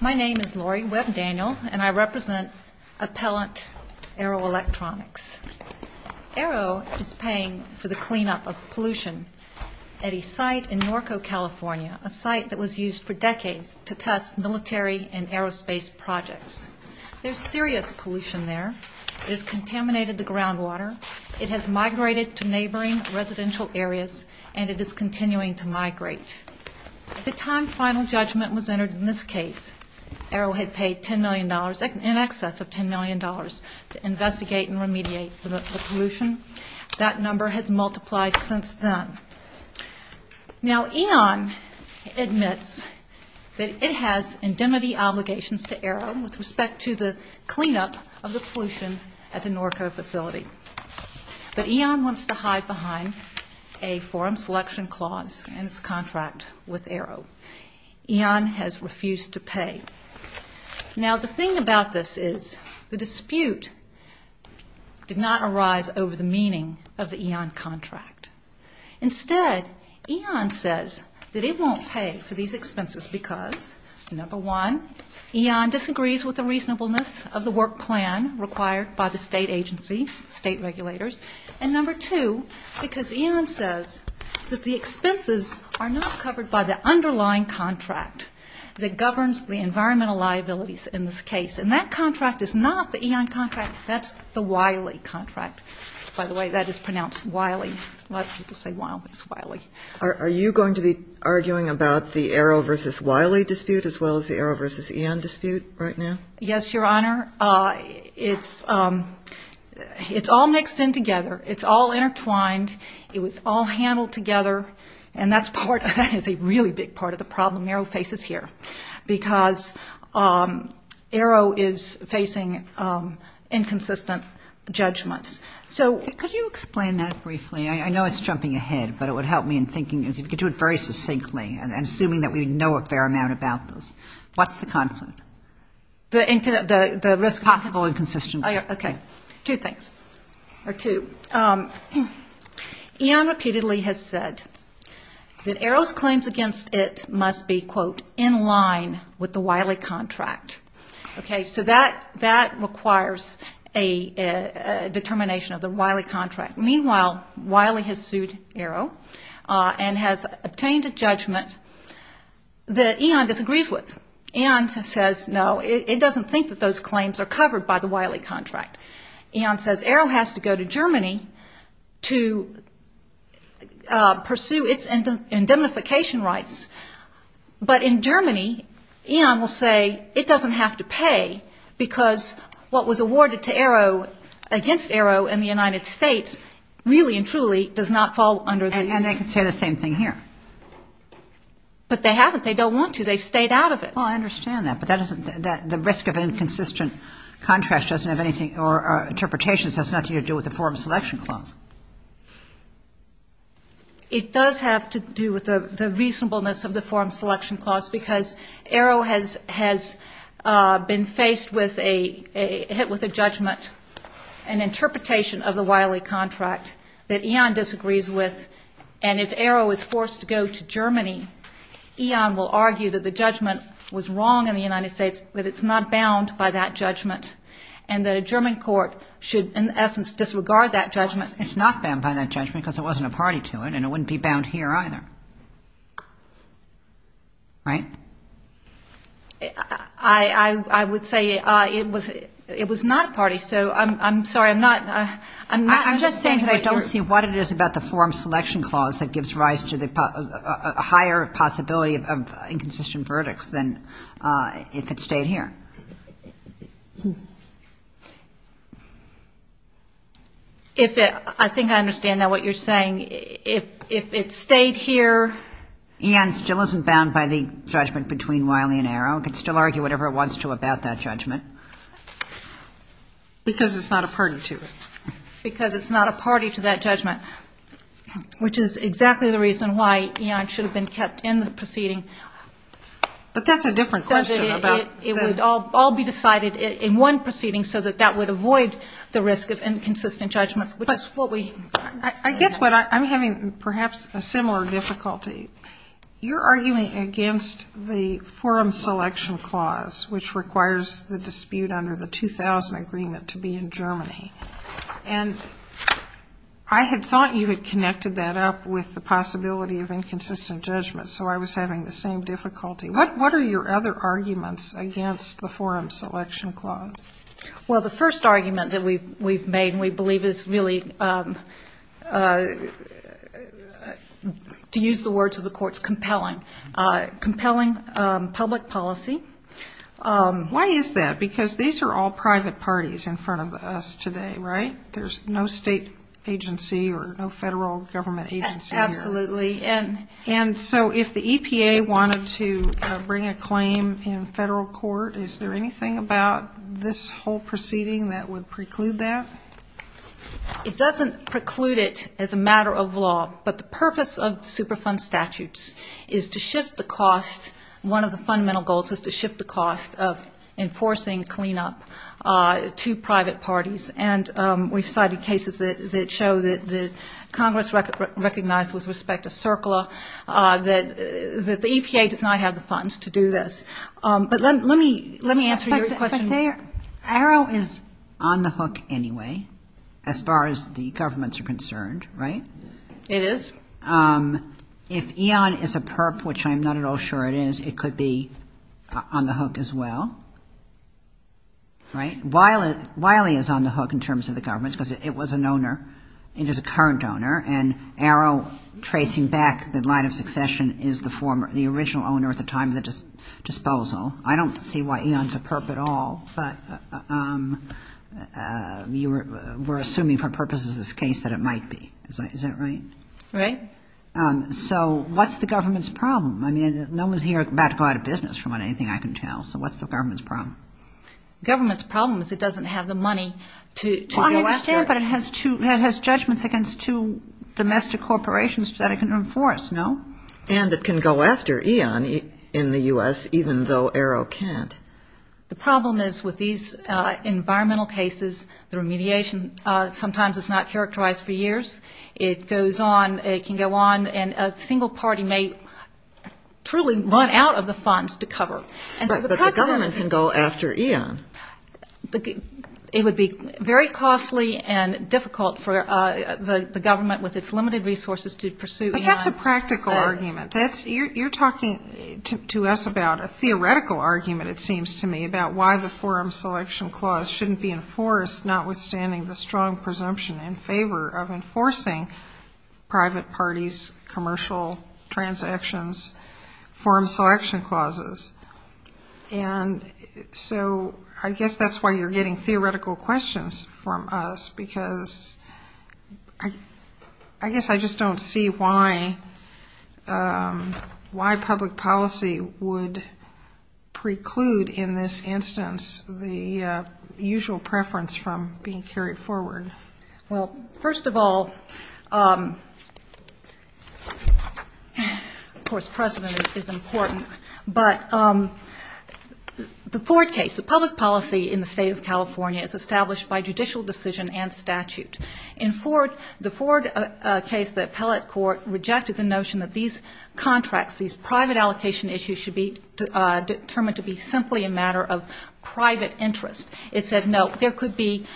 My name is Lori Webb Daniel, and I represent Appellant Aero Electronics. Aero is paying for the cleanup of pollution at a site in Norco, California, a site that was used for decades to test military and aerospace projects. There is serious pollution there. It has contaminated the groundwater. It has migrated to neighboring residential areas, and it is continuing to migrate. At the time final judgment was entered in this case, Aero had paid $10 million, in excess of $10 million, to investigate and remediate the pollution. That number has multiplied since then. Now, E.On admits that it has indemnity obligations to Aero with respect to the cleanup of the pollution at the Norco facility. But E.On wants to hide behind a forum selection clause in its contract with Aero. E.On has refused to pay. Now, the thing about this is the dispute did not arise over the meaning of the E.On contract. Instead, E.On says that it won't pay for these expenses because, number one, E.On disagrees with the reasonableness of the work plan required by the state agencies, state regulators, and, number two, because E.On says that the expenses are not covered by the underlying contract that governs the environmental liabilities in this case. And that contract is not the E.On contract. That's the Wiley contract. By the way, that is pronounced Wiley. A lot of people say Wiley. Are you going to be arguing about the Aero v. Wiley dispute as well as the Aero v. E.On dispute right now? Yes, Your Honor. It's all mixed in together. It's all intertwined. It was all handled together. And that is a really big part of the problem Aero faces here because Aero is facing inconsistent judgments. Could you explain that briefly? I know it's jumping ahead, but it would help me in thinking. If you could do it very succinctly, and assuming that we know a fair amount about this, what's the conflict? The risk. Possible inconsistency. Okay. Two things. Or two. E.On repeatedly has said that Aero's claims against it must be, quote, in line with the Wiley contract. Okay. So that requires a determination of the Wiley contract. Meanwhile, Wiley has sued Aero and has obtained a judgment that E.On disagrees with. E.On says, no, it doesn't think that those claims are covered by the Wiley contract. E.On says Aero has to go to Germany to pursue its indemnification rights. But in Germany, E.On will say it doesn't have to pay because what was awarded to Aero against Aero in the United States really and truly does not fall under the Wiley contract. And they can say the same thing here. But they haven't. They don't want to. They've stayed out of it. Well, I understand that. But the risk of inconsistent contracts doesn't have anything or interpretations has nothing to do with the Foreign Selection Clause. It does have to do with the reasonableness of the Foreign Selection Clause because Aero has been faced with a judgment, an interpretation of the Wiley contract that E.On disagrees with. And if Aero is forced to go to Germany, E.On will argue that the judgment was wrong in the United States, that it's not bound by that judgment, and that a German court should, in essence, disregard that judgment. It's not bound by that judgment because it wasn't a party to it, and it wouldn't be bound here either. Right? I would say it was not a party. So I'm sorry. I'm just saying that I don't see what it is about the Foreign Selection Clause that gives rise to a higher possibility of inconsistent verdicts than if it stayed here. I think I understand now what you're saying. If it stayed here. E.On still isn't bound by the judgment between Wiley and Aero. It can still argue whatever it wants to about that judgment. Because it's not a party to it. Which is exactly the reason why E.On should have been kept in the proceeding. But that's a different question. It would all be decided in one proceeding so that that would avoid the risk of inconsistent judgments. I guess what I'm having perhaps a similar difficulty. You're arguing against the Forum Selection Clause, which requires the dispute under the 2000 agreement to be in Germany. And I had thought you had connected that up with the possibility of inconsistent judgment. So I was having the same difficulty. What are your other arguments against the Forum Selection Clause? Well, the first argument that we've made and we believe is really, to use the words of the courts, compelling. Compelling public policy. Why is that? Because these are all private parties in front of us today, right? There's no state agency or no federal government agency here. Absolutely. And so if the EPA wanted to bring a claim in federal court, is there anything about this whole proceeding that would preclude that? It doesn't preclude it as a matter of law. But the purpose of the Superfund statutes is to shift the cost. One of the fundamental goals is to shift the cost of enforcing cleanup to private parties. And we've cited cases that show that Congress recognized with respect to CERCLA, that the EPA does not have the funds to do this. But let me answer your question. Arrow is on the hook anyway, as far as the governments are concerned, right? It is. If EON is a PERP, which I'm not at all sure it is, it could be on the hook as well, right? Wiley is on the hook in terms of the governments because it was an owner. It is a current owner. And Arrow, tracing back the line of succession, is the original owner at the time of the disposal. I don't see why EON is a PERP at all. But we're assuming for purposes of this case that it might be. Is that right? Right. So what's the government's problem? I mean, no one's here about to go out of business from what anything I can tell. So what's the government's problem? Government's problem is it doesn't have the money to go after it. I understand, but it has judgments against two domestic corporations that it can enforce, no? And it can go after EON in the U.S. even though Arrow can't. The problem is with these environmental cases, the remediation sometimes is not characterized for years. It goes on, it can go on, and a single party may truly run out of the funds to cover. But the government can go after EON. It would be very costly and difficult for the government with its limited resources to pursue EON. But that's a practical argument. You're talking to us about a theoretical argument, it seems to me, about why the forum selection clause shouldn't be enforced, notwithstanding the strong presumption in favor of enforcing private parties' commercial transactions forum selection clauses. And so I guess that's why you're getting theoretical questions from us, because I guess I just don't see why public policy would preclude in this instance the usual preference from being carried forward. Well, first of all, of course precedent is important, but the Ford case, the public policy in the State of California is established by judicial decision and statute. In the Ford case, the appellate court rejected the notion that these contracts, these private allocation issues should be determined to be simply a matter of private interest. It said, no, there could be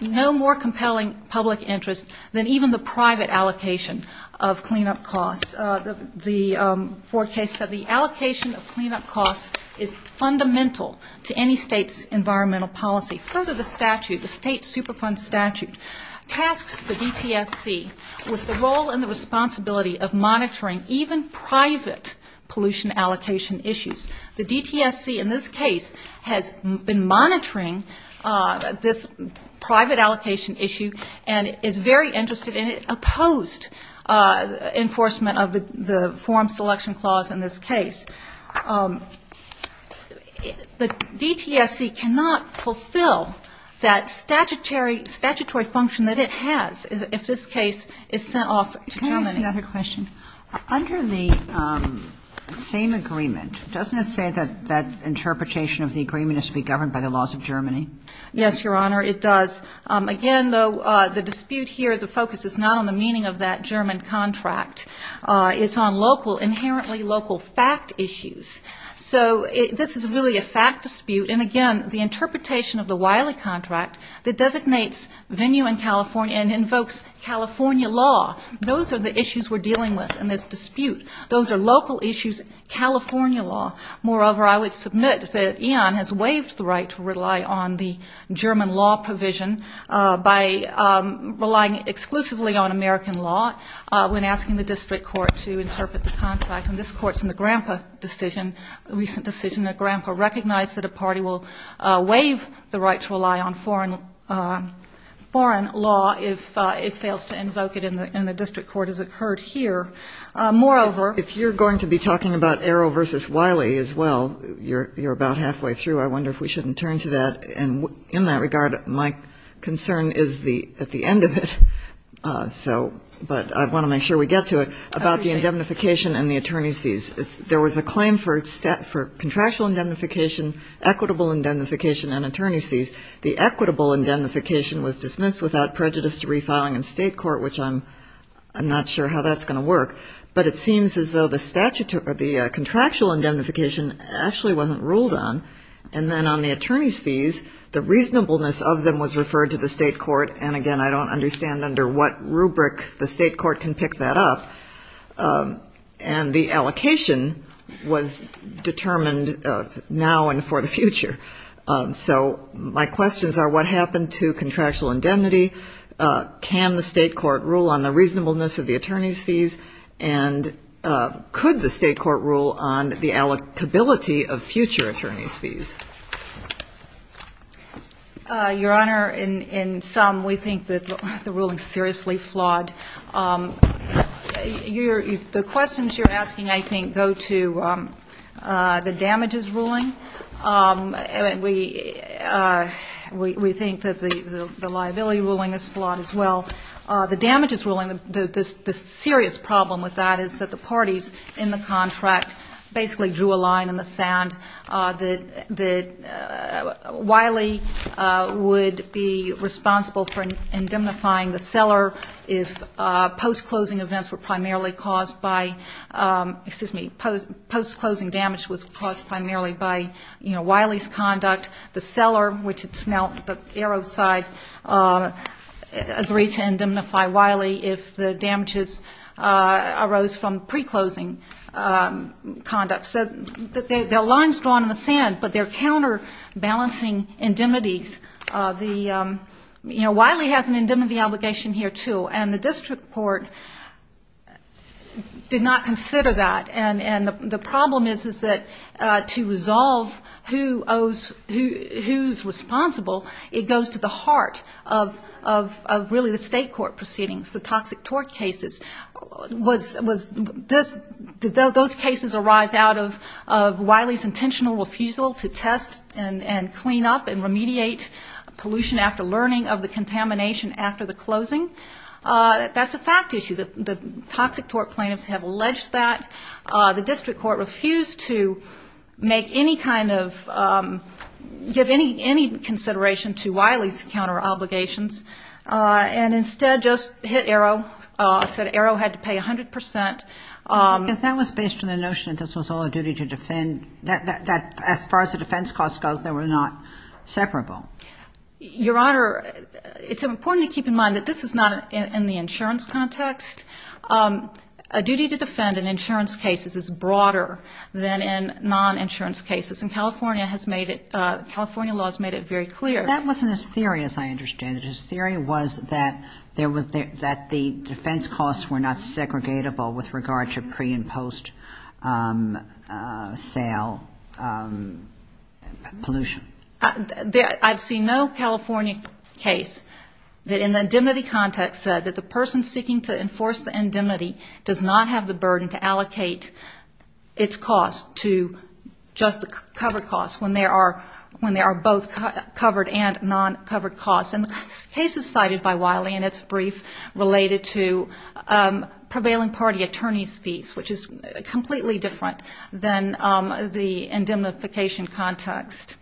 no more compelling public interest than even the private allocation of cleanup costs. The Ford case said the allocation of cleanup costs is fundamental to any state's environmental policy. Further, the statute, the state Superfund statute, tasks the DTSC with the role and the responsibility of monitoring even private pollution allocation issues. The DTSC in this case has been monitoring this private allocation issue and is very interested in it, opposed enforcement of the forum selection clause in this case. The DTSC cannot fulfill that statutory function that it has if this case is sent off to Germany. Can I ask another question? Under the same agreement, doesn't it say that that interpretation of the agreement is to be governed by the laws of Germany? Yes, Your Honor, it does. Again, though, the dispute here, the focus is not on the meaning of that German contract. It's on local, inherently local fact issues. So this is really a fact dispute. And again, the interpretation of the Wiley contract that designates venue in California and invokes California law, those are the issues we're dealing with in this dispute. Those are local issues, California law. Moreover, I would submit that Ian has waived the right to rely on the German law provision by relying exclusively on American law when asking the district court to interpret the contract. And this court's in the grandpa decision, a recent decision. The grandpa recognized that a party will waive the right to rely on foreign law if it fails to invoke it, and the district court has occurred here. Moreover, if you're going to be talking about Arrow v. Wiley as well, you're about halfway through. I wonder if we shouldn't turn to that. And in that regard, my concern is at the end of it, but I want to make sure we get to it, about the indemnification and the attorney's fees. There was a claim for contractual indemnification, equitable indemnification, and attorney's fees. The equitable indemnification was dismissed without prejudice to refiling in state court, which I'm not sure how that's going to work. But it seems as though the contractual indemnification actually wasn't ruled on. And then on the attorney's fees, the reasonableness of them was referred to the state court. And, again, I don't understand under what rubric the state court can pick that up. And the allocation was determined now and for the future. So my questions are what happened to contractual indemnity? Can the state court rule on the reasonableness of the attorney's fees? And could the state court rule on the allocability of future attorney's fees? Your Honor, in sum, we think that the ruling is seriously flawed. The questions you're asking, I think, go to the damages ruling. We think that the liability ruling is flawed as well. The damages ruling, the serious problem with that is that the parties in the contract basically drew a line in the sand, that Wiley would be responsible for indemnifying the seller if post-closing events were primarily caused by, excuse me, post-closing damage was caused primarily by Wiley's conduct. The seller, which is now the Arrow side, agreed to indemnify Wiley if the damages arose from pre-closing conduct. So there are lines drawn in the sand, but they're counterbalancing indemnities. You know, Wiley has an indemnity obligation here, too, and the district court did not consider that. And the problem is, is that to resolve who's responsible, it goes to the heart of really the state court proceedings, the toxic tort cases. Was this, did those cases arise out of Wiley's intentional refusal to test and clean up and remediate pollution after learning of the contamination after the closing? That's a fact issue. The toxic tort plaintiffs have alleged that. The district court refused to make any kind of, give any consideration to Wiley's counter-obligations, and instead just hit Arrow, said Arrow had to pay 100 percent. If that was based on the notion that this was all a duty to defend, that as far as the defense cost goes, they were not separable. Your Honor, it's important to keep in mind that this is not in the insurance context. A duty to defend in insurance cases is broader than in non-insurance cases, and California has made it, California law has made it very clear. That wasn't his theory, as I understand it. His theory was that the defense costs were not segregatable with regard to pre- and post-sale pollution. I've seen no California case that in the indemnity context said that the person seeking to enforce the indemnity does not have the burden to allocate its costs to just the covered costs, when there are both covered and non-covered costs. And this case is cited by Wiley in its brief related to prevailing party attorney's fees, which is completely different than the indemnification context.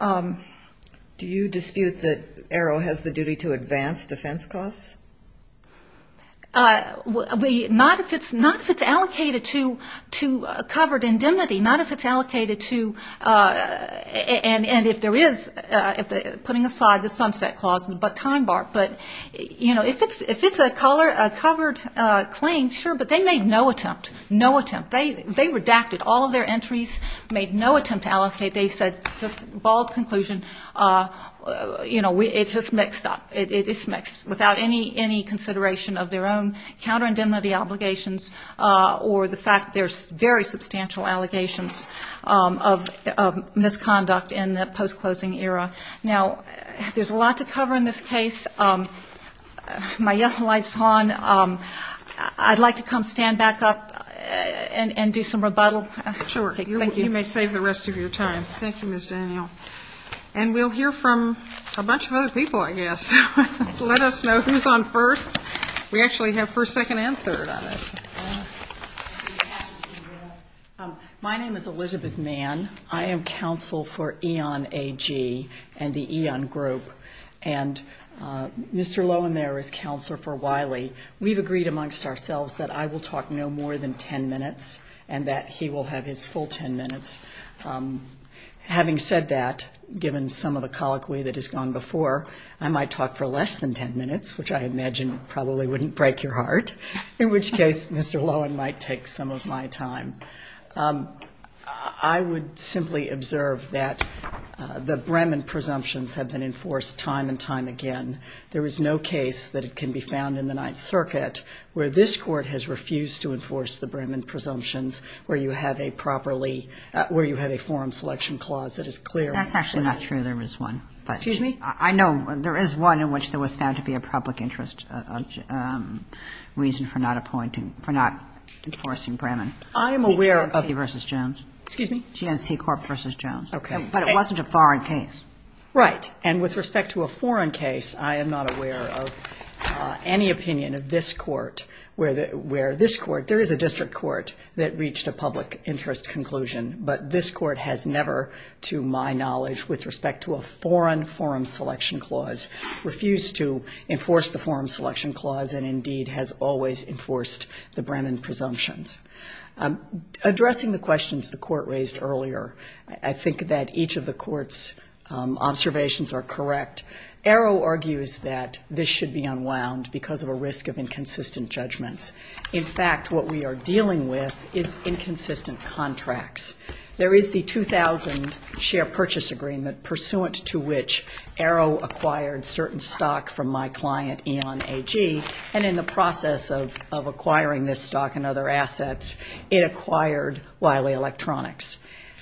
Do you dispute that AERO has the duty to advance defense costs? Not if it's allocated to covered indemnity, not if it's allocated to, and if there is, putting aside the sunset clause and the time bar. But, you know, if it's a covered claim, sure, but they made no attempt, no attempt. They redacted all of their entries, made no attempt to allocate. They said, just a bald conclusion, you know, it's just mixed up. It's mixed, without any consideration of their own counterindemnity obligations or the fact there's very substantial allegations of misconduct in the post-closing era. Now, there's a lot to cover in this case. My yellow light is on. I'd like to come stand back up and do some rebuttal. Sure. Thank you. You may save the rest of your time. Thank you, Ms. Daniel. And we'll hear from a bunch of other people, I guess. Let us know who's on first. We actually have first, second, and third on us. My name is Elizabeth Mann. I am counsel for Eon AG and the Eon Group. And Mr. Loewenmaier is counselor for Wiley. We've agreed amongst ourselves that I will talk no more than 10 minutes and that he will have his full 10 minutes. Having said that, given some of the colloquy that has gone before, I might talk for less than 10 minutes, which I imagine probably wouldn't break your heart, in which case Mr. Loewen might take some of my time. I would simply observe that the Brehman presumptions have been enforced time and time again. There is no case that can be found in the Ninth Circuit where this Court has refused to enforce the Brehman presumptions where you have a forum selection clause that is clear. That's actually not true. There is one. Excuse me? I know there is one in which there was found to be a public interest reason for not enforcing Brehman. I am aware of the versus Jones. Excuse me? GNC Corp versus Jones. Okay. But it wasn't a foreign case. Right. And with respect to a foreign case, I am not aware of any opinion of this Court where this Court, there is a district court that reached a public interest conclusion, but this Court has never, to my knowledge, with respect to a foreign forum selection clause, refused to enforce the forum selection clause and, indeed, has always enforced the Brehman presumptions. Addressing the questions the Court raised earlier, I think that each of the Court's observations are correct. Arrow argues that this should be unwound because of a risk of inconsistent judgments. In fact, what we are dealing with is inconsistent contracts. There is the 2000 share purchase agreement pursuant to which Arrow acquired certain stock from my client, Eon AG, and in the process of acquiring this stock and other assets, it acquired Wiley Electronics.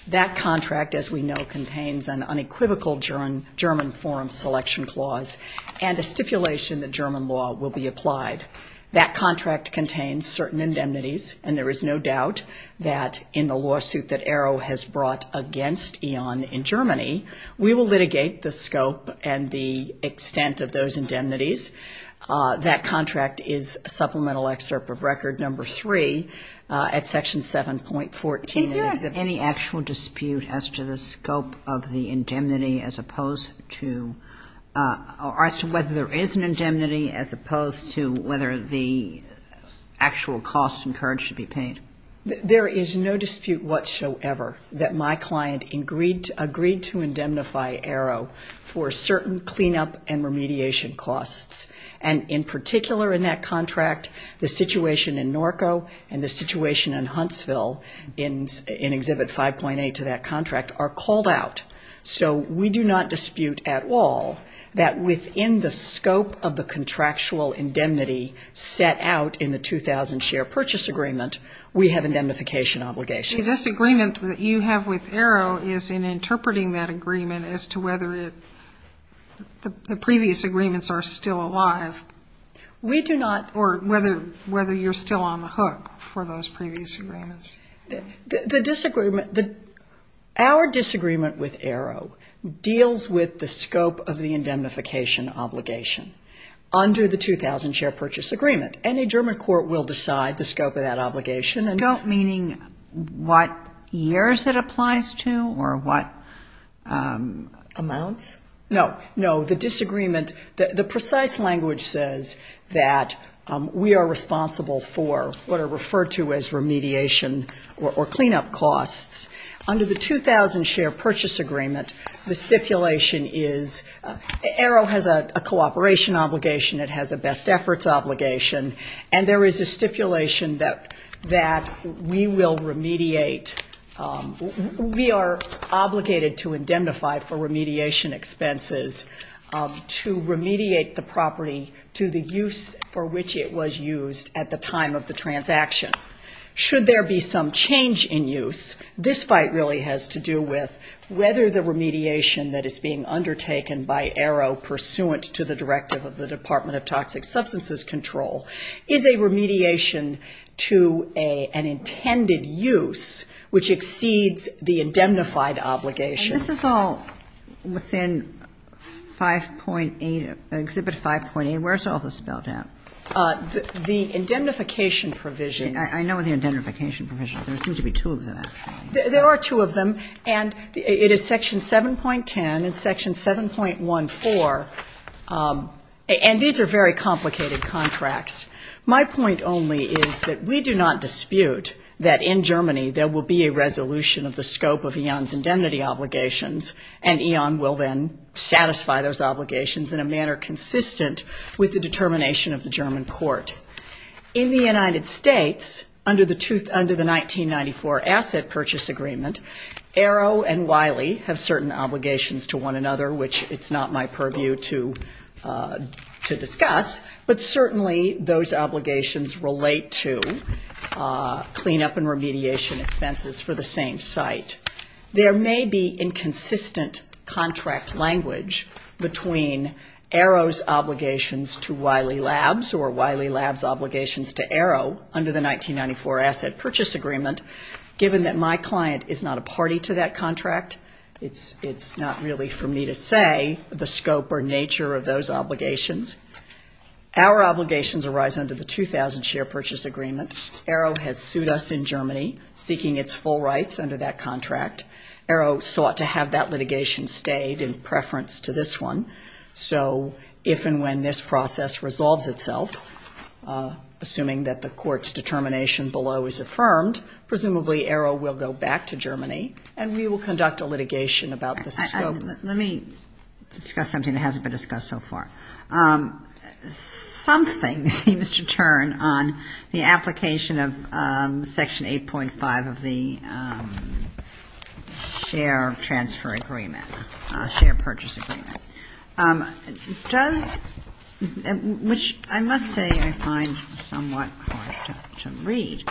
That contract, as we know, contains an unequivocal German forum selection clause and a stipulation that German law will be applied. That contract contains certain indemnities, and there is no doubt that in the lawsuit that Arrow has brought against Eon in Germany, we will litigate the scope and the extent of those indemnities. That contract is a supplemental excerpt of Record No. 3 at Section 7.14. Is there any actual dispute as to the scope of the indemnity as opposed to or as to whether there is an indemnity as opposed to whether the actual costs encouraged to be paid? There is no dispute whatsoever that my client agreed to indemnify Arrow for certain cleanup and remediation costs, and in particular in that contract, the situation in Norco and the situation in Huntsville in Exhibit 5.8 to that contract are called out. So we do not dispute at all that within the scope of the contractual indemnity set out in the 2000 share purchase agreement, we have indemnification obligations. The disagreement that you have with Arrow is in interpreting that agreement as to whether the previous agreements are still alive. We do not. Or whether you're still on the hook for those previous agreements. The disagreement, our disagreement with Arrow deals with the scope of the indemnification obligation under the 2000 share purchase agreement. Any German court will decide the scope of that obligation. The scope meaning what years it applies to or what amounts? No, no. The disagreement, the precise language says that we are responsible for what are referred to as remediation or cleanup costs. Under the 2000 share purchase agreement, the stipulation is Arrow has a cooperation obligation, it has a best efforts obligation, and there is a stipulation that we will remediate. We are obligated to indemnify for remediation expenses to remediate the property to the use for which it was used at the time of the transaction. Should there be some change in use, this fight really has to do with whether the remediation that is being undertaken by Arrow pursuant to the directive of the Department of Toxic Substances Control is a remediation to an intended use which exceeds the indemnified obligation. And this is all within 5.8, Exhibit 5.8. Where is all this spelled out? The indemnification provisions. I know the indemnification provisions. There seems to be two of them. There are two of them, and it is Section 7.10 and Section 7.14, and these are very complicated contracts. My point only is that we do not dispute that in Germany there will be a resolution of the scope of EON's indemnity obligations, and EON will then satisfy those obligations in a manner consistent with the determination of the German court. In the United States, under the 1994 Asset Purchase Agreement, Arrow and Wiley have certain obligations to one another, which it's not my purview to discuss, but certainly those obligations relate to cleanup and remediation expenses for the same site. There may be inconsistent contract language between Arrow's obligations to Wiley Labs or Wiley Labs' obligations to Arrow under the 1994 Asset Purchase Agreement, given that my client is not a party to that contract. It's not really for me to say the scope or nature of those obligations. Our obligations arise under the 2000 Share Purchase Agreement. Arrow has sued us in Germany, seeking its full rights under that contract. Arrow sought to have that litigation stayed in preference to this one. So if and when this process resolves itself, assuming that the court's determination below is affirmed, presumably Arrow will go back to Germany and we will conduct a litigation about the scope. Let me discuss something that hasn't been discussed so far. Something seems to turn on the application of Section 8.5 of the Share Transfer Agreement, Share Purchase Agreement, which I must say I find somewhat hard to read.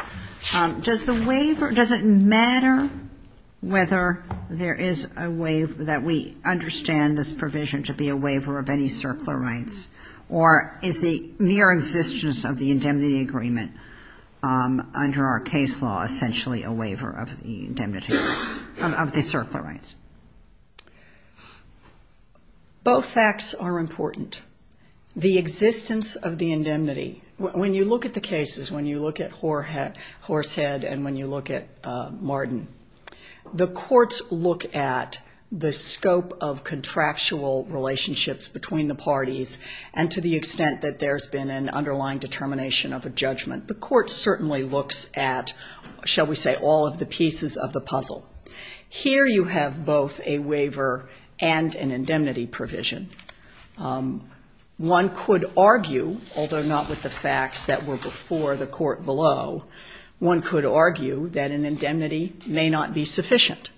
Does the waiver, does it matter whether there is a waiver, that we understand this provision to be a waiver of any circular rights, or is the mere existence of the indemnity agreement under our case law essentially a waiver of the circular rights? Both facts are important. The existence of the indemnity, when you look at the cases, when you look at Horsehead and when you look at Martin, the courts look at the scope of contractual relationships between the parties and to the extent that there's been an underlying determination of a judgment. The court certainly looks at, shall we say, all of the pieces of the puzzle. Here you have both a waiver and an indemnity provision. One could argue, although not with the facts that were before the court below, one could argue that an indemnity may not be sufficient.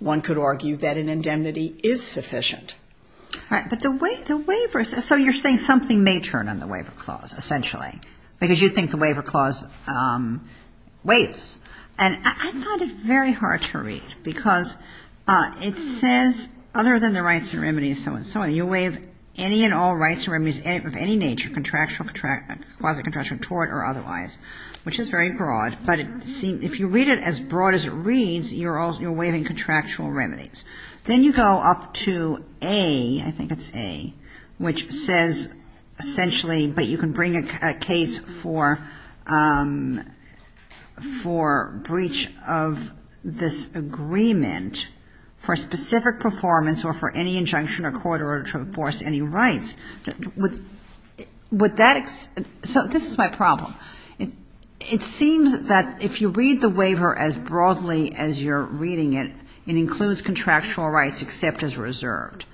One could argue that an indemnity is sufficient. All right. But the waiver, so you're saying something may turn on the waiver clause, essentially, because you think the waiver clause waives. And I find it very hard to read because it says, other than the rights and remedies and so on and so on, you waive any and all rights and remedies of any nature, contractual, quasi-contractual, which is very broad. But if you read it as broad as it reads, you're waiving contractual remedies. Then you go up to A, I think it's A, which says, essentially, but you can bring a case for breach of this agreement for specific performance or for any injunction or court order to enforce any rights. So this is my problem. It seems that if you read the waiver as broadly as you're reading it, it includes contractual rights except as reserved.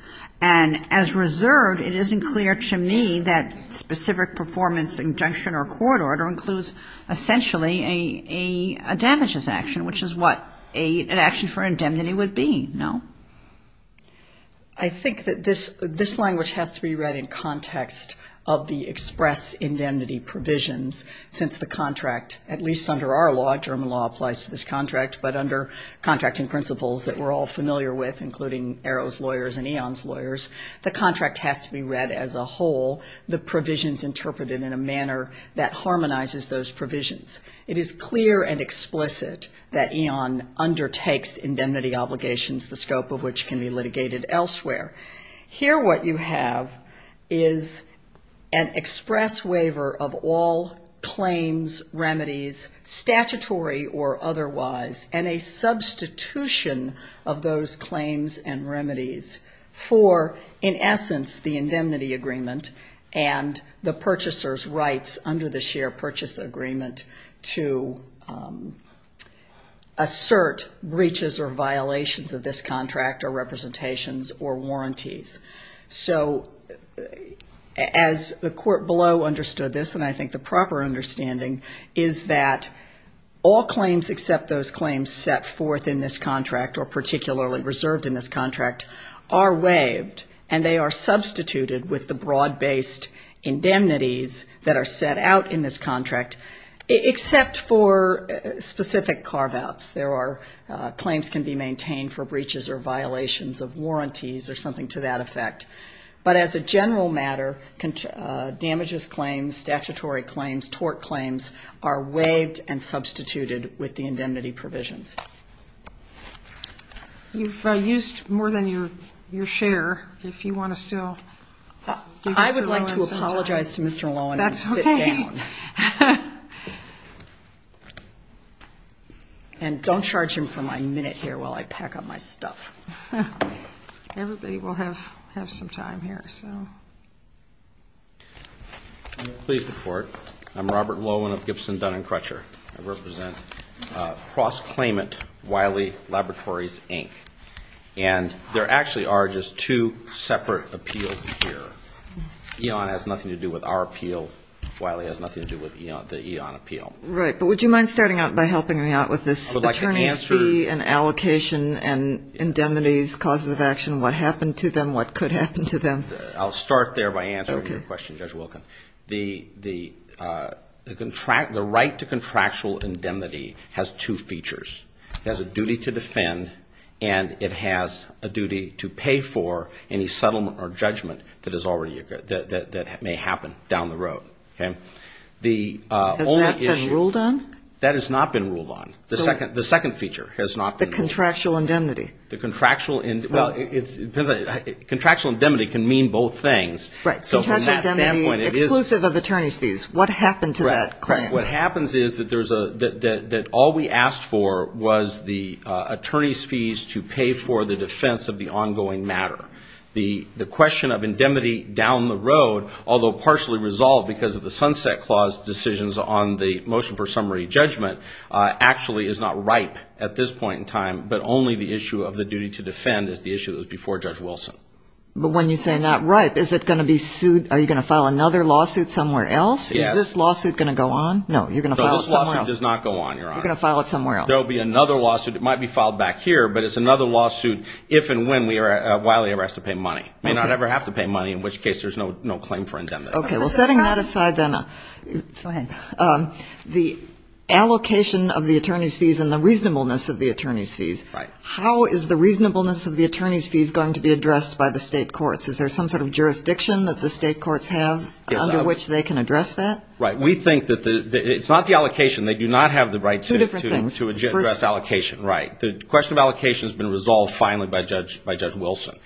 And as reserved, it isn't clear to me that specific performance injunction or court order includes, essentially, a damages action, which is what? An action for indemnity would be, no? I think that this language has to be read in context of the express indemnity provisions since the contract, at least under our law, German law applies to this contract, but under contracting principles that we're all familiar with, including ERO's lawyers and EON's lawyers, the contract has to be read as a whole, the provisions interpreted in a manner that harmonizes those provisions. It is clear and explicit that EON undertakes indemnity obligations, the scope of which can be litigated elsewhere. Here what you have is an express waiver of all claims, remedies, statutory or otherwise, and a substitution of those claims and remedies for, in essence, the indemnity agreement and the purchaser's rights under the share purchase agreement to assert breaches or violations of this contract or representations or warranties. So as the court below understood this, and I think the proper understanding, is that all claims except those claims set forth in this contract or particularly reserved in this contract are waived, and they are substituted with the broad-based indemnities that are set out in this contract, except for specific carve-outs. There are claims can be maintained for breaches or violations of warranties or something to that effect. But as a general matter, damages claims, statutory claims, tort claims, are waived and substituted with the indemnity provisions. You've used more than your share. If you want to still give this to Lowen sometime. I would like to apologize to Mr. Lowen and sit down. That's okay. And don't charge him for my minute here while I pack up my stuff. Everybody will have some time here. I'm pleased to report I'm Robert Lowen of Gibson Dun & Crutcher. I represent Cross Claimant Wiley Laboratories, Inc., and there actually are just two separate appeals here. Eon has nothing to do with our appeal. Wiley has nothing to do with Eon. Right. But would you mind starting out by helping me out with this attorney's fee and allocation and indemnities, causes of action, what happened to them, what could happen to them? I'll start there by answering your question, Judge Wilkin. The right to contractual indemnity has two features. It has a duty to defend, and it has a duty to pay for any settlement or judgment that may happen down the road. Has that been ruled on? That has not been ruled on. The second feature has not been ruled on. The contractual indemnity. Contractual indemnity can mean both things. Contractual indemnity exclusive of attorney's fees. What happened to that? What happens is that all we asked for was the attorney's fees to pay for the defense of the ongoing matter. The question of indemnity down the road, although partially resolved because of the Sunset Clause decisions on the motion for summary judgment, actually is not ripe at this point in time, but only the issue of the duty to defend is the issue that was before Judge Wilson. But when you say not ripe, is it going to be sued? Are you going to file another lawsuit somewhere else? Yes. Is this lawsuit going to go on? No, you're going to file it somewhere else. No, this lawsuit does not go on, Your Honor. You're going to file it somewhere else. There will be another lawsuit. It might be filed back here, but it's another lawsuit if and when we are wildly arrested to pay money. We may not ever have to pay money, in which case there's no claim for indemnity. Okay. Well, setting that aside then, the allocation of the attorney's fees and the reasonableness of the attorney's fees, how is the reasonableness of the attorney's fees going to be addressed by the state courts? Is there some sort of jurisdiction that the state courts have under which they can address that? Right. We think that it's not the allocation. They do not have the right to address allocation. Right. The question of allocation has been resolved finally by Judge Wilson.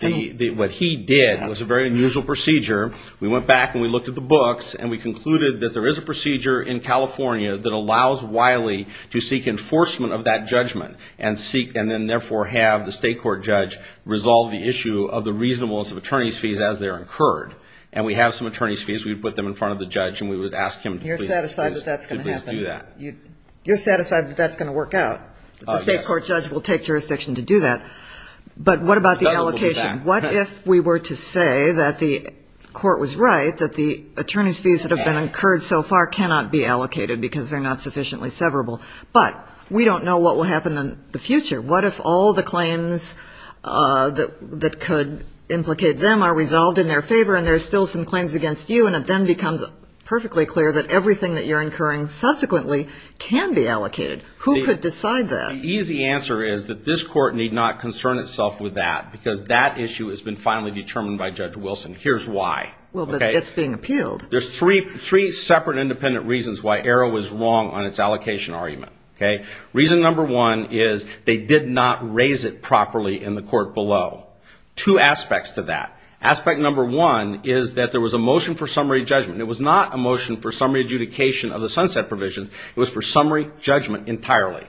What he did was a very unusual procedure. We went back and we looked at the books and we concluded that there is a procedure in California that allows Wiley to seek enforcement of that judgment and then therefore have the state court judge resolve the issue of the reasonableness of attorney's fees as they are incurred. And we have some attorney's fees. We put them in front of the judge and we would ask him to please do that. You're satisfied that that's going to happen? You're satisfied that that's going to work out? Yes. The state court judge will take jurisdiction to do that. But what about the allocation? What if we were to say that the court was right, that the attorney's fees that have been incurred so far cannot be allocated because they're not sufficiently severable? But we don't know what will happen in the future. What if all the claims that could implicate them are resolved in their favor and there are still some claims against you and it then becomes perfectly clear that everything that you're incurring subsequently can be allocated? Who could decide that? The easy answer is that this court need not concern itself with that because that issue has been finally determined by Judge Wilson. Here's why. Well, but it's being appealed. There's three separate independent reasons why Arrow was wrong on its allocation argument. Reason number one is they did not raise it properly in the court below. Two aspects to that. Aspect number one is that there was a motion for summary judgment. It was not a motion for summary adjudication of the sunset provision. It was for summary judgment entirely.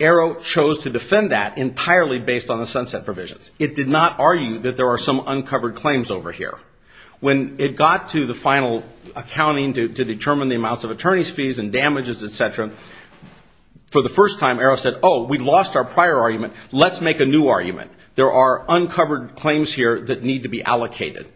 Arrow chose to defend that entirely based on the sunset provisions. It did not argue that there are some uncovered claims over here. When it got to the final accounting to determine the amounts of attorney's fees and damages, et cetera, for the first time Arrow said, oh, we lost our prior argument, let's make a new argument. There are uncovered claims here that need to be allocated.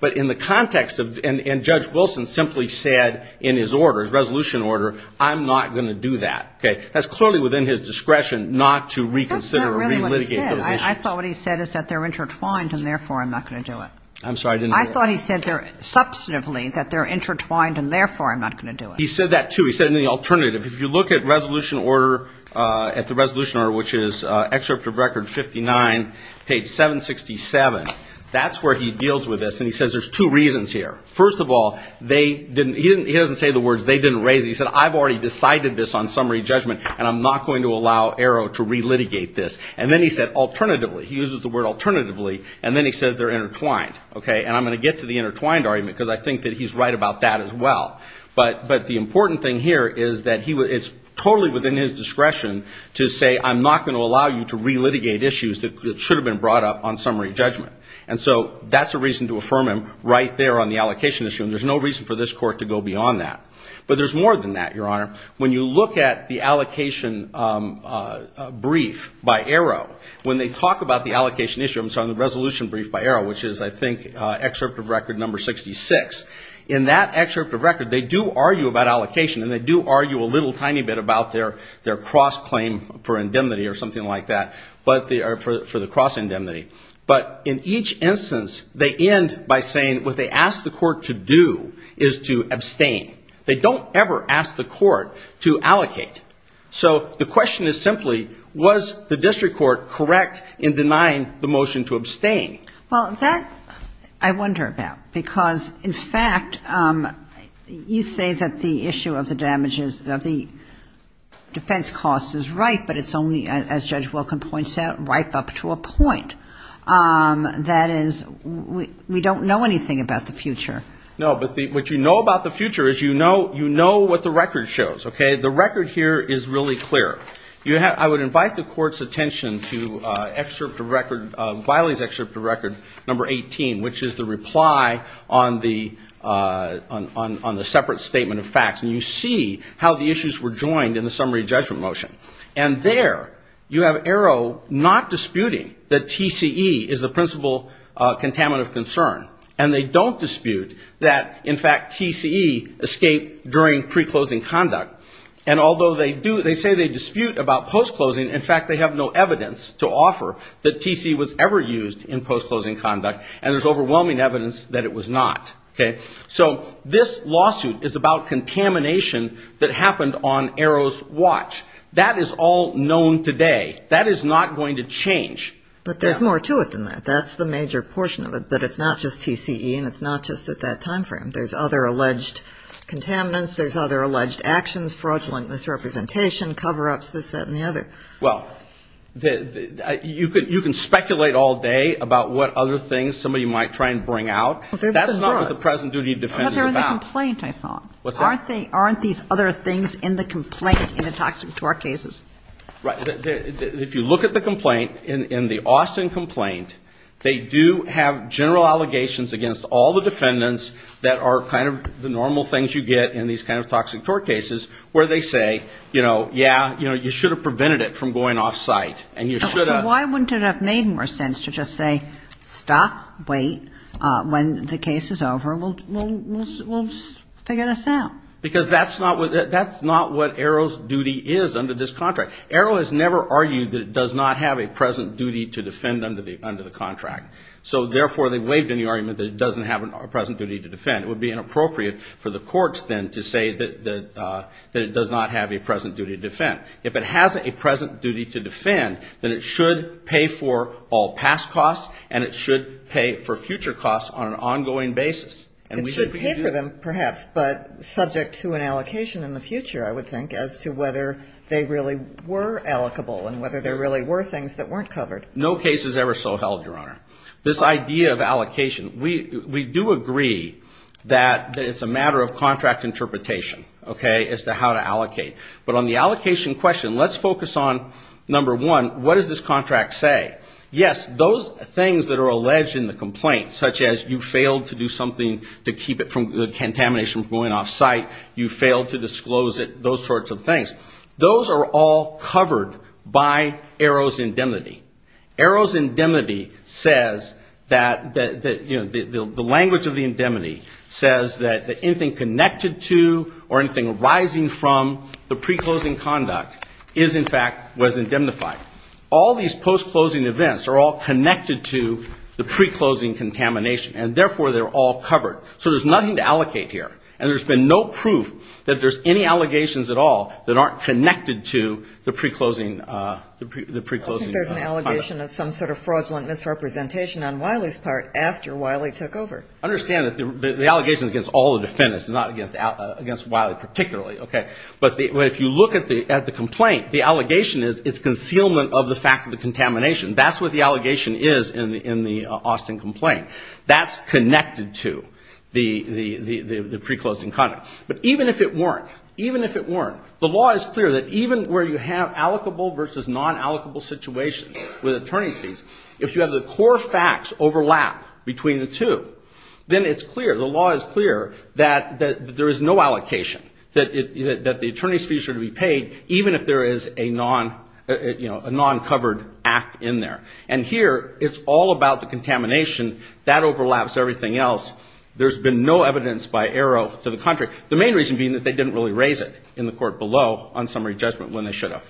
But in the context of, and Judge Wilson simply said in his order, his resolution order, I'm not going to do that. That's clearly within his discretion not to reconsider or relitigate those issues. That's not really what he said. I thought what he said is that they're intertwined and therefore I'm not going to do it. I'm sorry, I didn't hear that. I thought he said substantively that they're intertwined and therefore I'm not going to do it. He said that, too. He said in the alternative. If you look at resolution order, at the resolution order, which is excerpt of record 59, page 767, that's where he deals with this. And he says there's two reasons here. First of all, he doesn't say the words they didn't raise it. He said I've already decided this on summary judgment and I'm not going to allow Arrow to relitigate this. And then he said alternatively, he uses the word alternatively, and then he says they're intertwined. And I'm going to get to the intertwined argument because I think that he's right about that as well. But the important thing here is that it's totally within his discretion to say I'm not going to allow you to relitigate issues that should have been brought up on summary judgment. And so that's a reason to affirm him right there on the allocation issue, and there's no reason for this court to go beyond that. But there's more than that, Your Honor. When you look at the allocation brief by Arrow, when they talk about the allocation issue, I'm sorry, the resolution brief by Arrow, which is, I think, excerpt of record number 66, in that excerpt of record they do argue about allocation and they do argue a little tiny bit about their cross-claim for indemnity or something like that, for the cross-indemnity. But in each instance they end by saying what they ask the court to do is to abstain. They don't ever ask the court to allocate. So the question is simply was the district court correct in denying the motion to abstain? Well, that I wonder about, because, in fact, you say that the issue of the damages of the defense cost is right, but it's only, as Judge Wilkin points out, ripe up to a point. That is, we don't know anything about the future. No, but what you know about the future is you know what the record shows, okay? The record here is really clear. I would invite the court's attention to Wiley's excerpt of record number 18, which is the reply on the separate statement of facts, and you see how the issues were joined in the summary judgment motion. And there you have Arrow not disputing that TCE is the principal contaminant of concern, and they don't dispute that, in fact, TCE escaped during pre-closing conduct. And although they say they dispute about post-closing, in fact they have no evidence to offer that TCE was ever used in post-closing conduct, and there's overwhelming evidence that it was not, okay? So this lawsuit is about contamination that happened on Arrow's watch. That is all known today. That is not going to change. But there's more to it than that. That's the major portion of it, but it's not just TCE and it's not just at that time frame. There's other alleged contaminants. There's other alleged actions, fraudulent misrepresentation, cover-ups, this, that, and the other. Well, you can speculate all day about what other things somebody might try and bring out. That's not what the present duty of defense is about. But they're in the complaint, I thought. Aren't these other things in the complaint in the toxic torque cases? Right. If you look at the complaint, in the Austin complaint, they do have general allegations against all the defendants that are kind of the normal things you get in these kind of toxic torque cases, where they say, you know, yeah, you should have prevented it from going off-site, and you should have. So why wouldn't it have made more sense to just say, stop, wait, when the case is over, we'll figure this out? Because that's not what Arrow's duty is under this contract. Arrow has never argued that it does not have a present duty to defend under the contract. So, therefore, they've waived any argument that it doesn't have a present duty to defend. It would be inappropriate for the courts, then, to say that it does not have a present duty to defend. If it has a present duty to defend, then it should pay for all past costs, and it should pay for future costs on an ongoing basis. It should pay for them, perhaps, but subject to an allocation in the future, I would think, as to whether they really were allocable and whether there really were things that weren't covered. No case is ever so held, Your Honor. This idea of allocation, we do agree that it's a matter of contract interpretation, okay, as to how to allocate. But on the allocation question, let's focus on, number one, what does this contract say? Yes, those things that are alleged in the complaint, such as you failed to do something to keep the contamination from going off-site, you failed to disclose it, those sorts of things, those are all covered by Arrow's indemnity. Arrow's indemnity says that, you know, the language of the indemnity says that anything connected to or anything arising from the pre-closing conduct is, in fact, was indemnified. All these post-closing events are all connected to the pre-closing contamination, and, therefore, they're all covered. So there's nothing to allocate here. And there's been no proof that there's any allegations at all that aren't connected to the pre-closing conduct. I think there's an allegation of some sort of fraudulent misrepresentation on Wiley's part after Wiley took over. I understand that the allegation is against all the defendants, not against Wiley particularly, okay. But if you look at the complaint, the allegation is it's concealment of the fact of the contamination. That's what the allegation is in the Austin complaint. That's connected to the pre-closing conduct. But even if it weren't, even if it weren't, the law is clear that even where you have allocable versus non-allocable situations with attorney's fees, if you have the core facts overlap between the two, then it's clear, the law is clear that there is no allocation, that the attorney's fees are to be paid, even if there is a non-covered act in there. And here it's all about the contamination. That overlaps everything else. There's been no evidence by Arrow to the contrary. The main reason being that they didn't really raise it in the court below on summary judgment when they should have.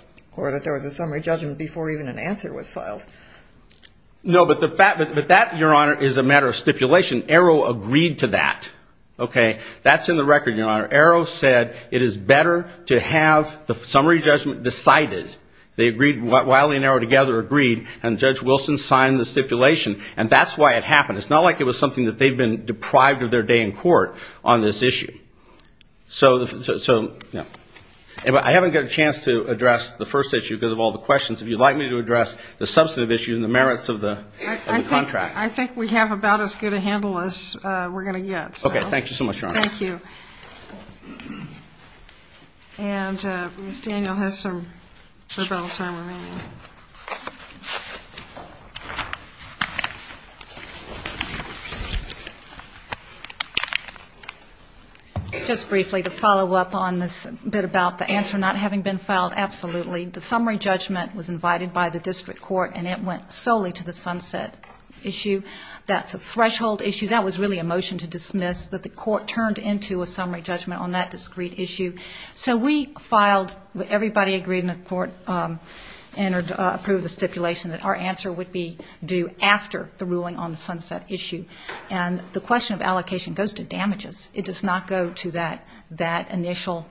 No, but that, Your Honor, is a matter of stipulation. Arrow agreed to that, okay? That's in the record, Your Honor. Arrow said it is better to have the summary judgment decided. Wiley and Arrow together agreed, and Judge Wilson signed the stipulation, and that's why it happened. It's not like it was something that they've been deprived of their day in court on this issue. So I haven't got a chance to address the first issue because of all the questions. If you'd like me to address the substantive issue and the merits of the contract. I think we have about as good a handle as we're going to get. Okay, thank you so much, Your Honor. Thank you. And Ms. Daniel has some rebuttal time remaining. Just briefly to follow up on this bit about the answer not having been filed, absolutely. The summary judgment was invited by the district court, and it went solely to the sunset issue. That's a threshold issue. That was really a motion to dismiss, that the court turned into a summary judgment on that discrete issue. So we filed, everybody agreed in the court and approved the stipulation that our answer would be due after the ruling on the sunset issue. And the question of allocation goes to damages. It does not go to that initial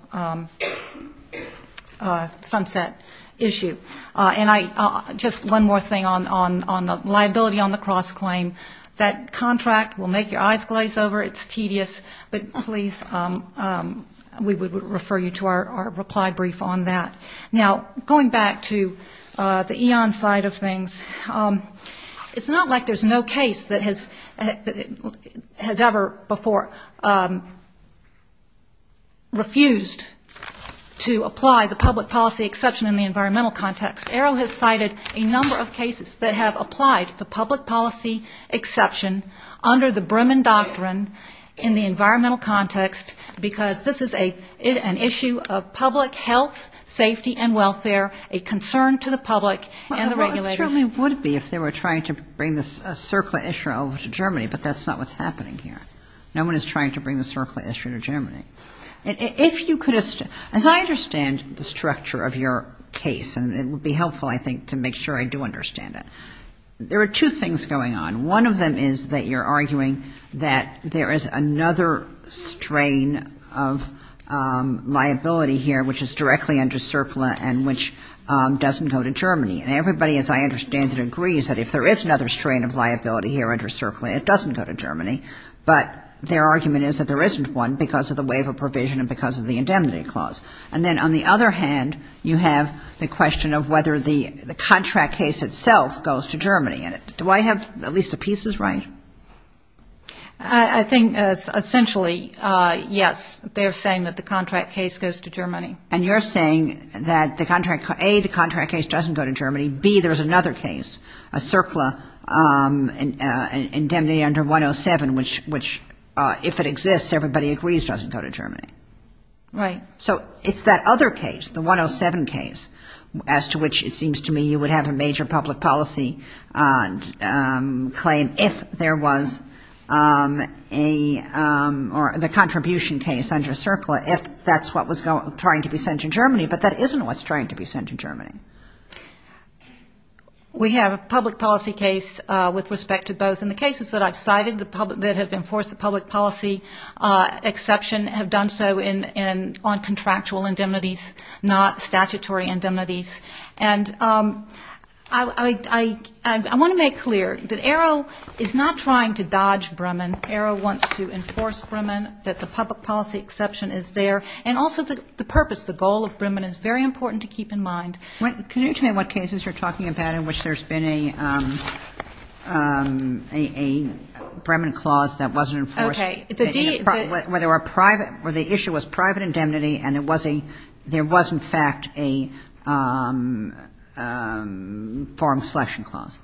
sunset issue. And just one more thing on the liability on the cross-claim. That contract will make your eyes glaze over. It's tedious. But please, we would refer you to our reply brief on that. Now, going back to the Eon side of things, it's not like there's no case that has ever before refused to apply the public policy exception in the environmental context. Errol has cited a number of cases that have applied the public policy exception under the Bremen Doctrine in the environmental context, because this is an issue of public health, safety and welfare, a concern to the public and the regulators. Well, it certainly would be if they were trying to bring this circular issue over to Germany, but that's not what's happening here. No one is trying to bring the circular issue to Germany. As I understand the structure of your case, and it would be helpful, I think, to make sure I do understand it, there are two things going on. One of them is that you're arguing that there is another strain of liability here which is directly under surplus and which doesn't go to Germany. And everybody, as I understand it, agrees that if there is another strain of liability here under surplus, it doesn't go to Germany. But their argument is that there isn't one because of the waiver provision and because of the indemnity clause. And then on the other hand, you have the question of whether the contract case itself goes to Germany. Do I have at least a piece that's right? I think essentially, yes, they're saying that the contract case goes to Germany. And you're saying that, A, the contract case doesn't go to Germany. B, there's another case, a circular indemnity under 107, which if it exists, everybody agrees doesn't go to Germany. Right. So it's that other case, the 107 case, as to which it seems to me you would have a major public policy claim if there was a or the contribution case under circular if that's what was trying to be sent to Germany, but that isn't what's trying to be sent to Germany. We have a public policy case with respect to both. And the cases that I've cited that have enforced a public policy exception have done so on contractual indemnities, not statutory indemnities. And I want to make clear that ARO is not trying to dodge Bremen. ARO wants to enforce Bremen, that the public policy exception is there. And also the purpose, the goal of Bremen is very important to keep in mind. Can you tell me what cases you're talking about in which there's been a Bremen clause that wasn't enforced? Okay. Where the issue was private indemnity and there was, in fact, a foreign selection clause.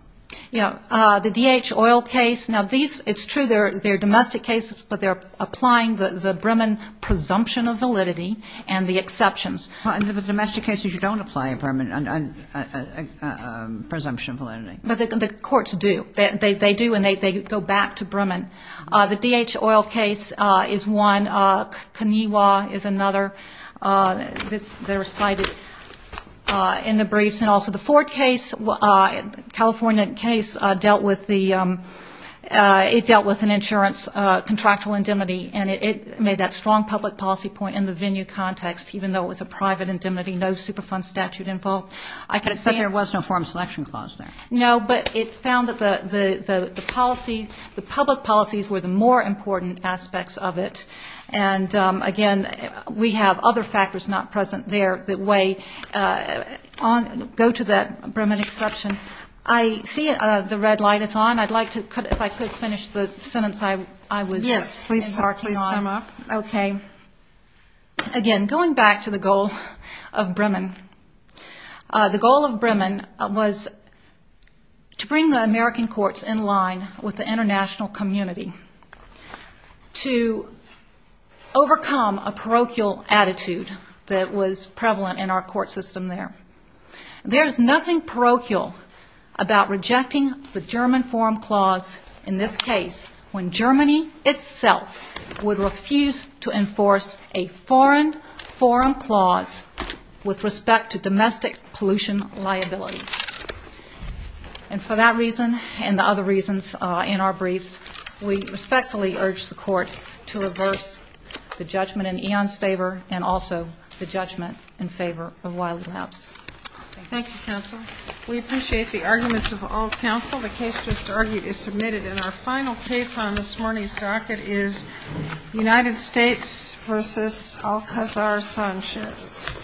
Yeah. The DH oil case. Now, these, it's true, they're domestic cases, but they're applying the Bremen presumption of validity and the exceptions. Well, in the domestic cases, you don't apply a presumption of validity. But the courts do. They do, and they go back to Bremen. The DH oil case is one. Kaniwa is another. They're cited in the briefs. And also the Ford case, California case, dealt with the, it dealt with an insurance contractual indemnity, and it made that strong public policy point in the venue context, even though it was a private indemnity, no Superfund statute involved. But it said there was no foreign selection clause there. No, but it found that the policy, the public policies were the more important aspects of it. And, again, we have other factors not present there that weigh on, go to that Bremen exception. I see the red light. It's on. I'd like to, if I could, finish the sentence I was embarking on. Yes, please. Please sum up. Okay. Again, going back to the goal of Bremen. The goal of Bremen was to bring the American courts in line with the international community, to overcome a parochial attitude that was prevalent in our court system there. There is nothing parochial about rejecting the German forum clause in this case, when Germany itself would refuse to enforce a foreign forum clause with respect to domestic pollution liability. And for that reason and the other reasons in our briefs, we respectfully urge the court to reverse the judgment in Ian's favor and also the judgment in favor of Wiley-Labs. Thank you, counsel. We appreciate the arguments of all counsel. The case just argued is submitted. And our final case on this morning's docket is United States v. Alcazar-Sanchez. Thank you.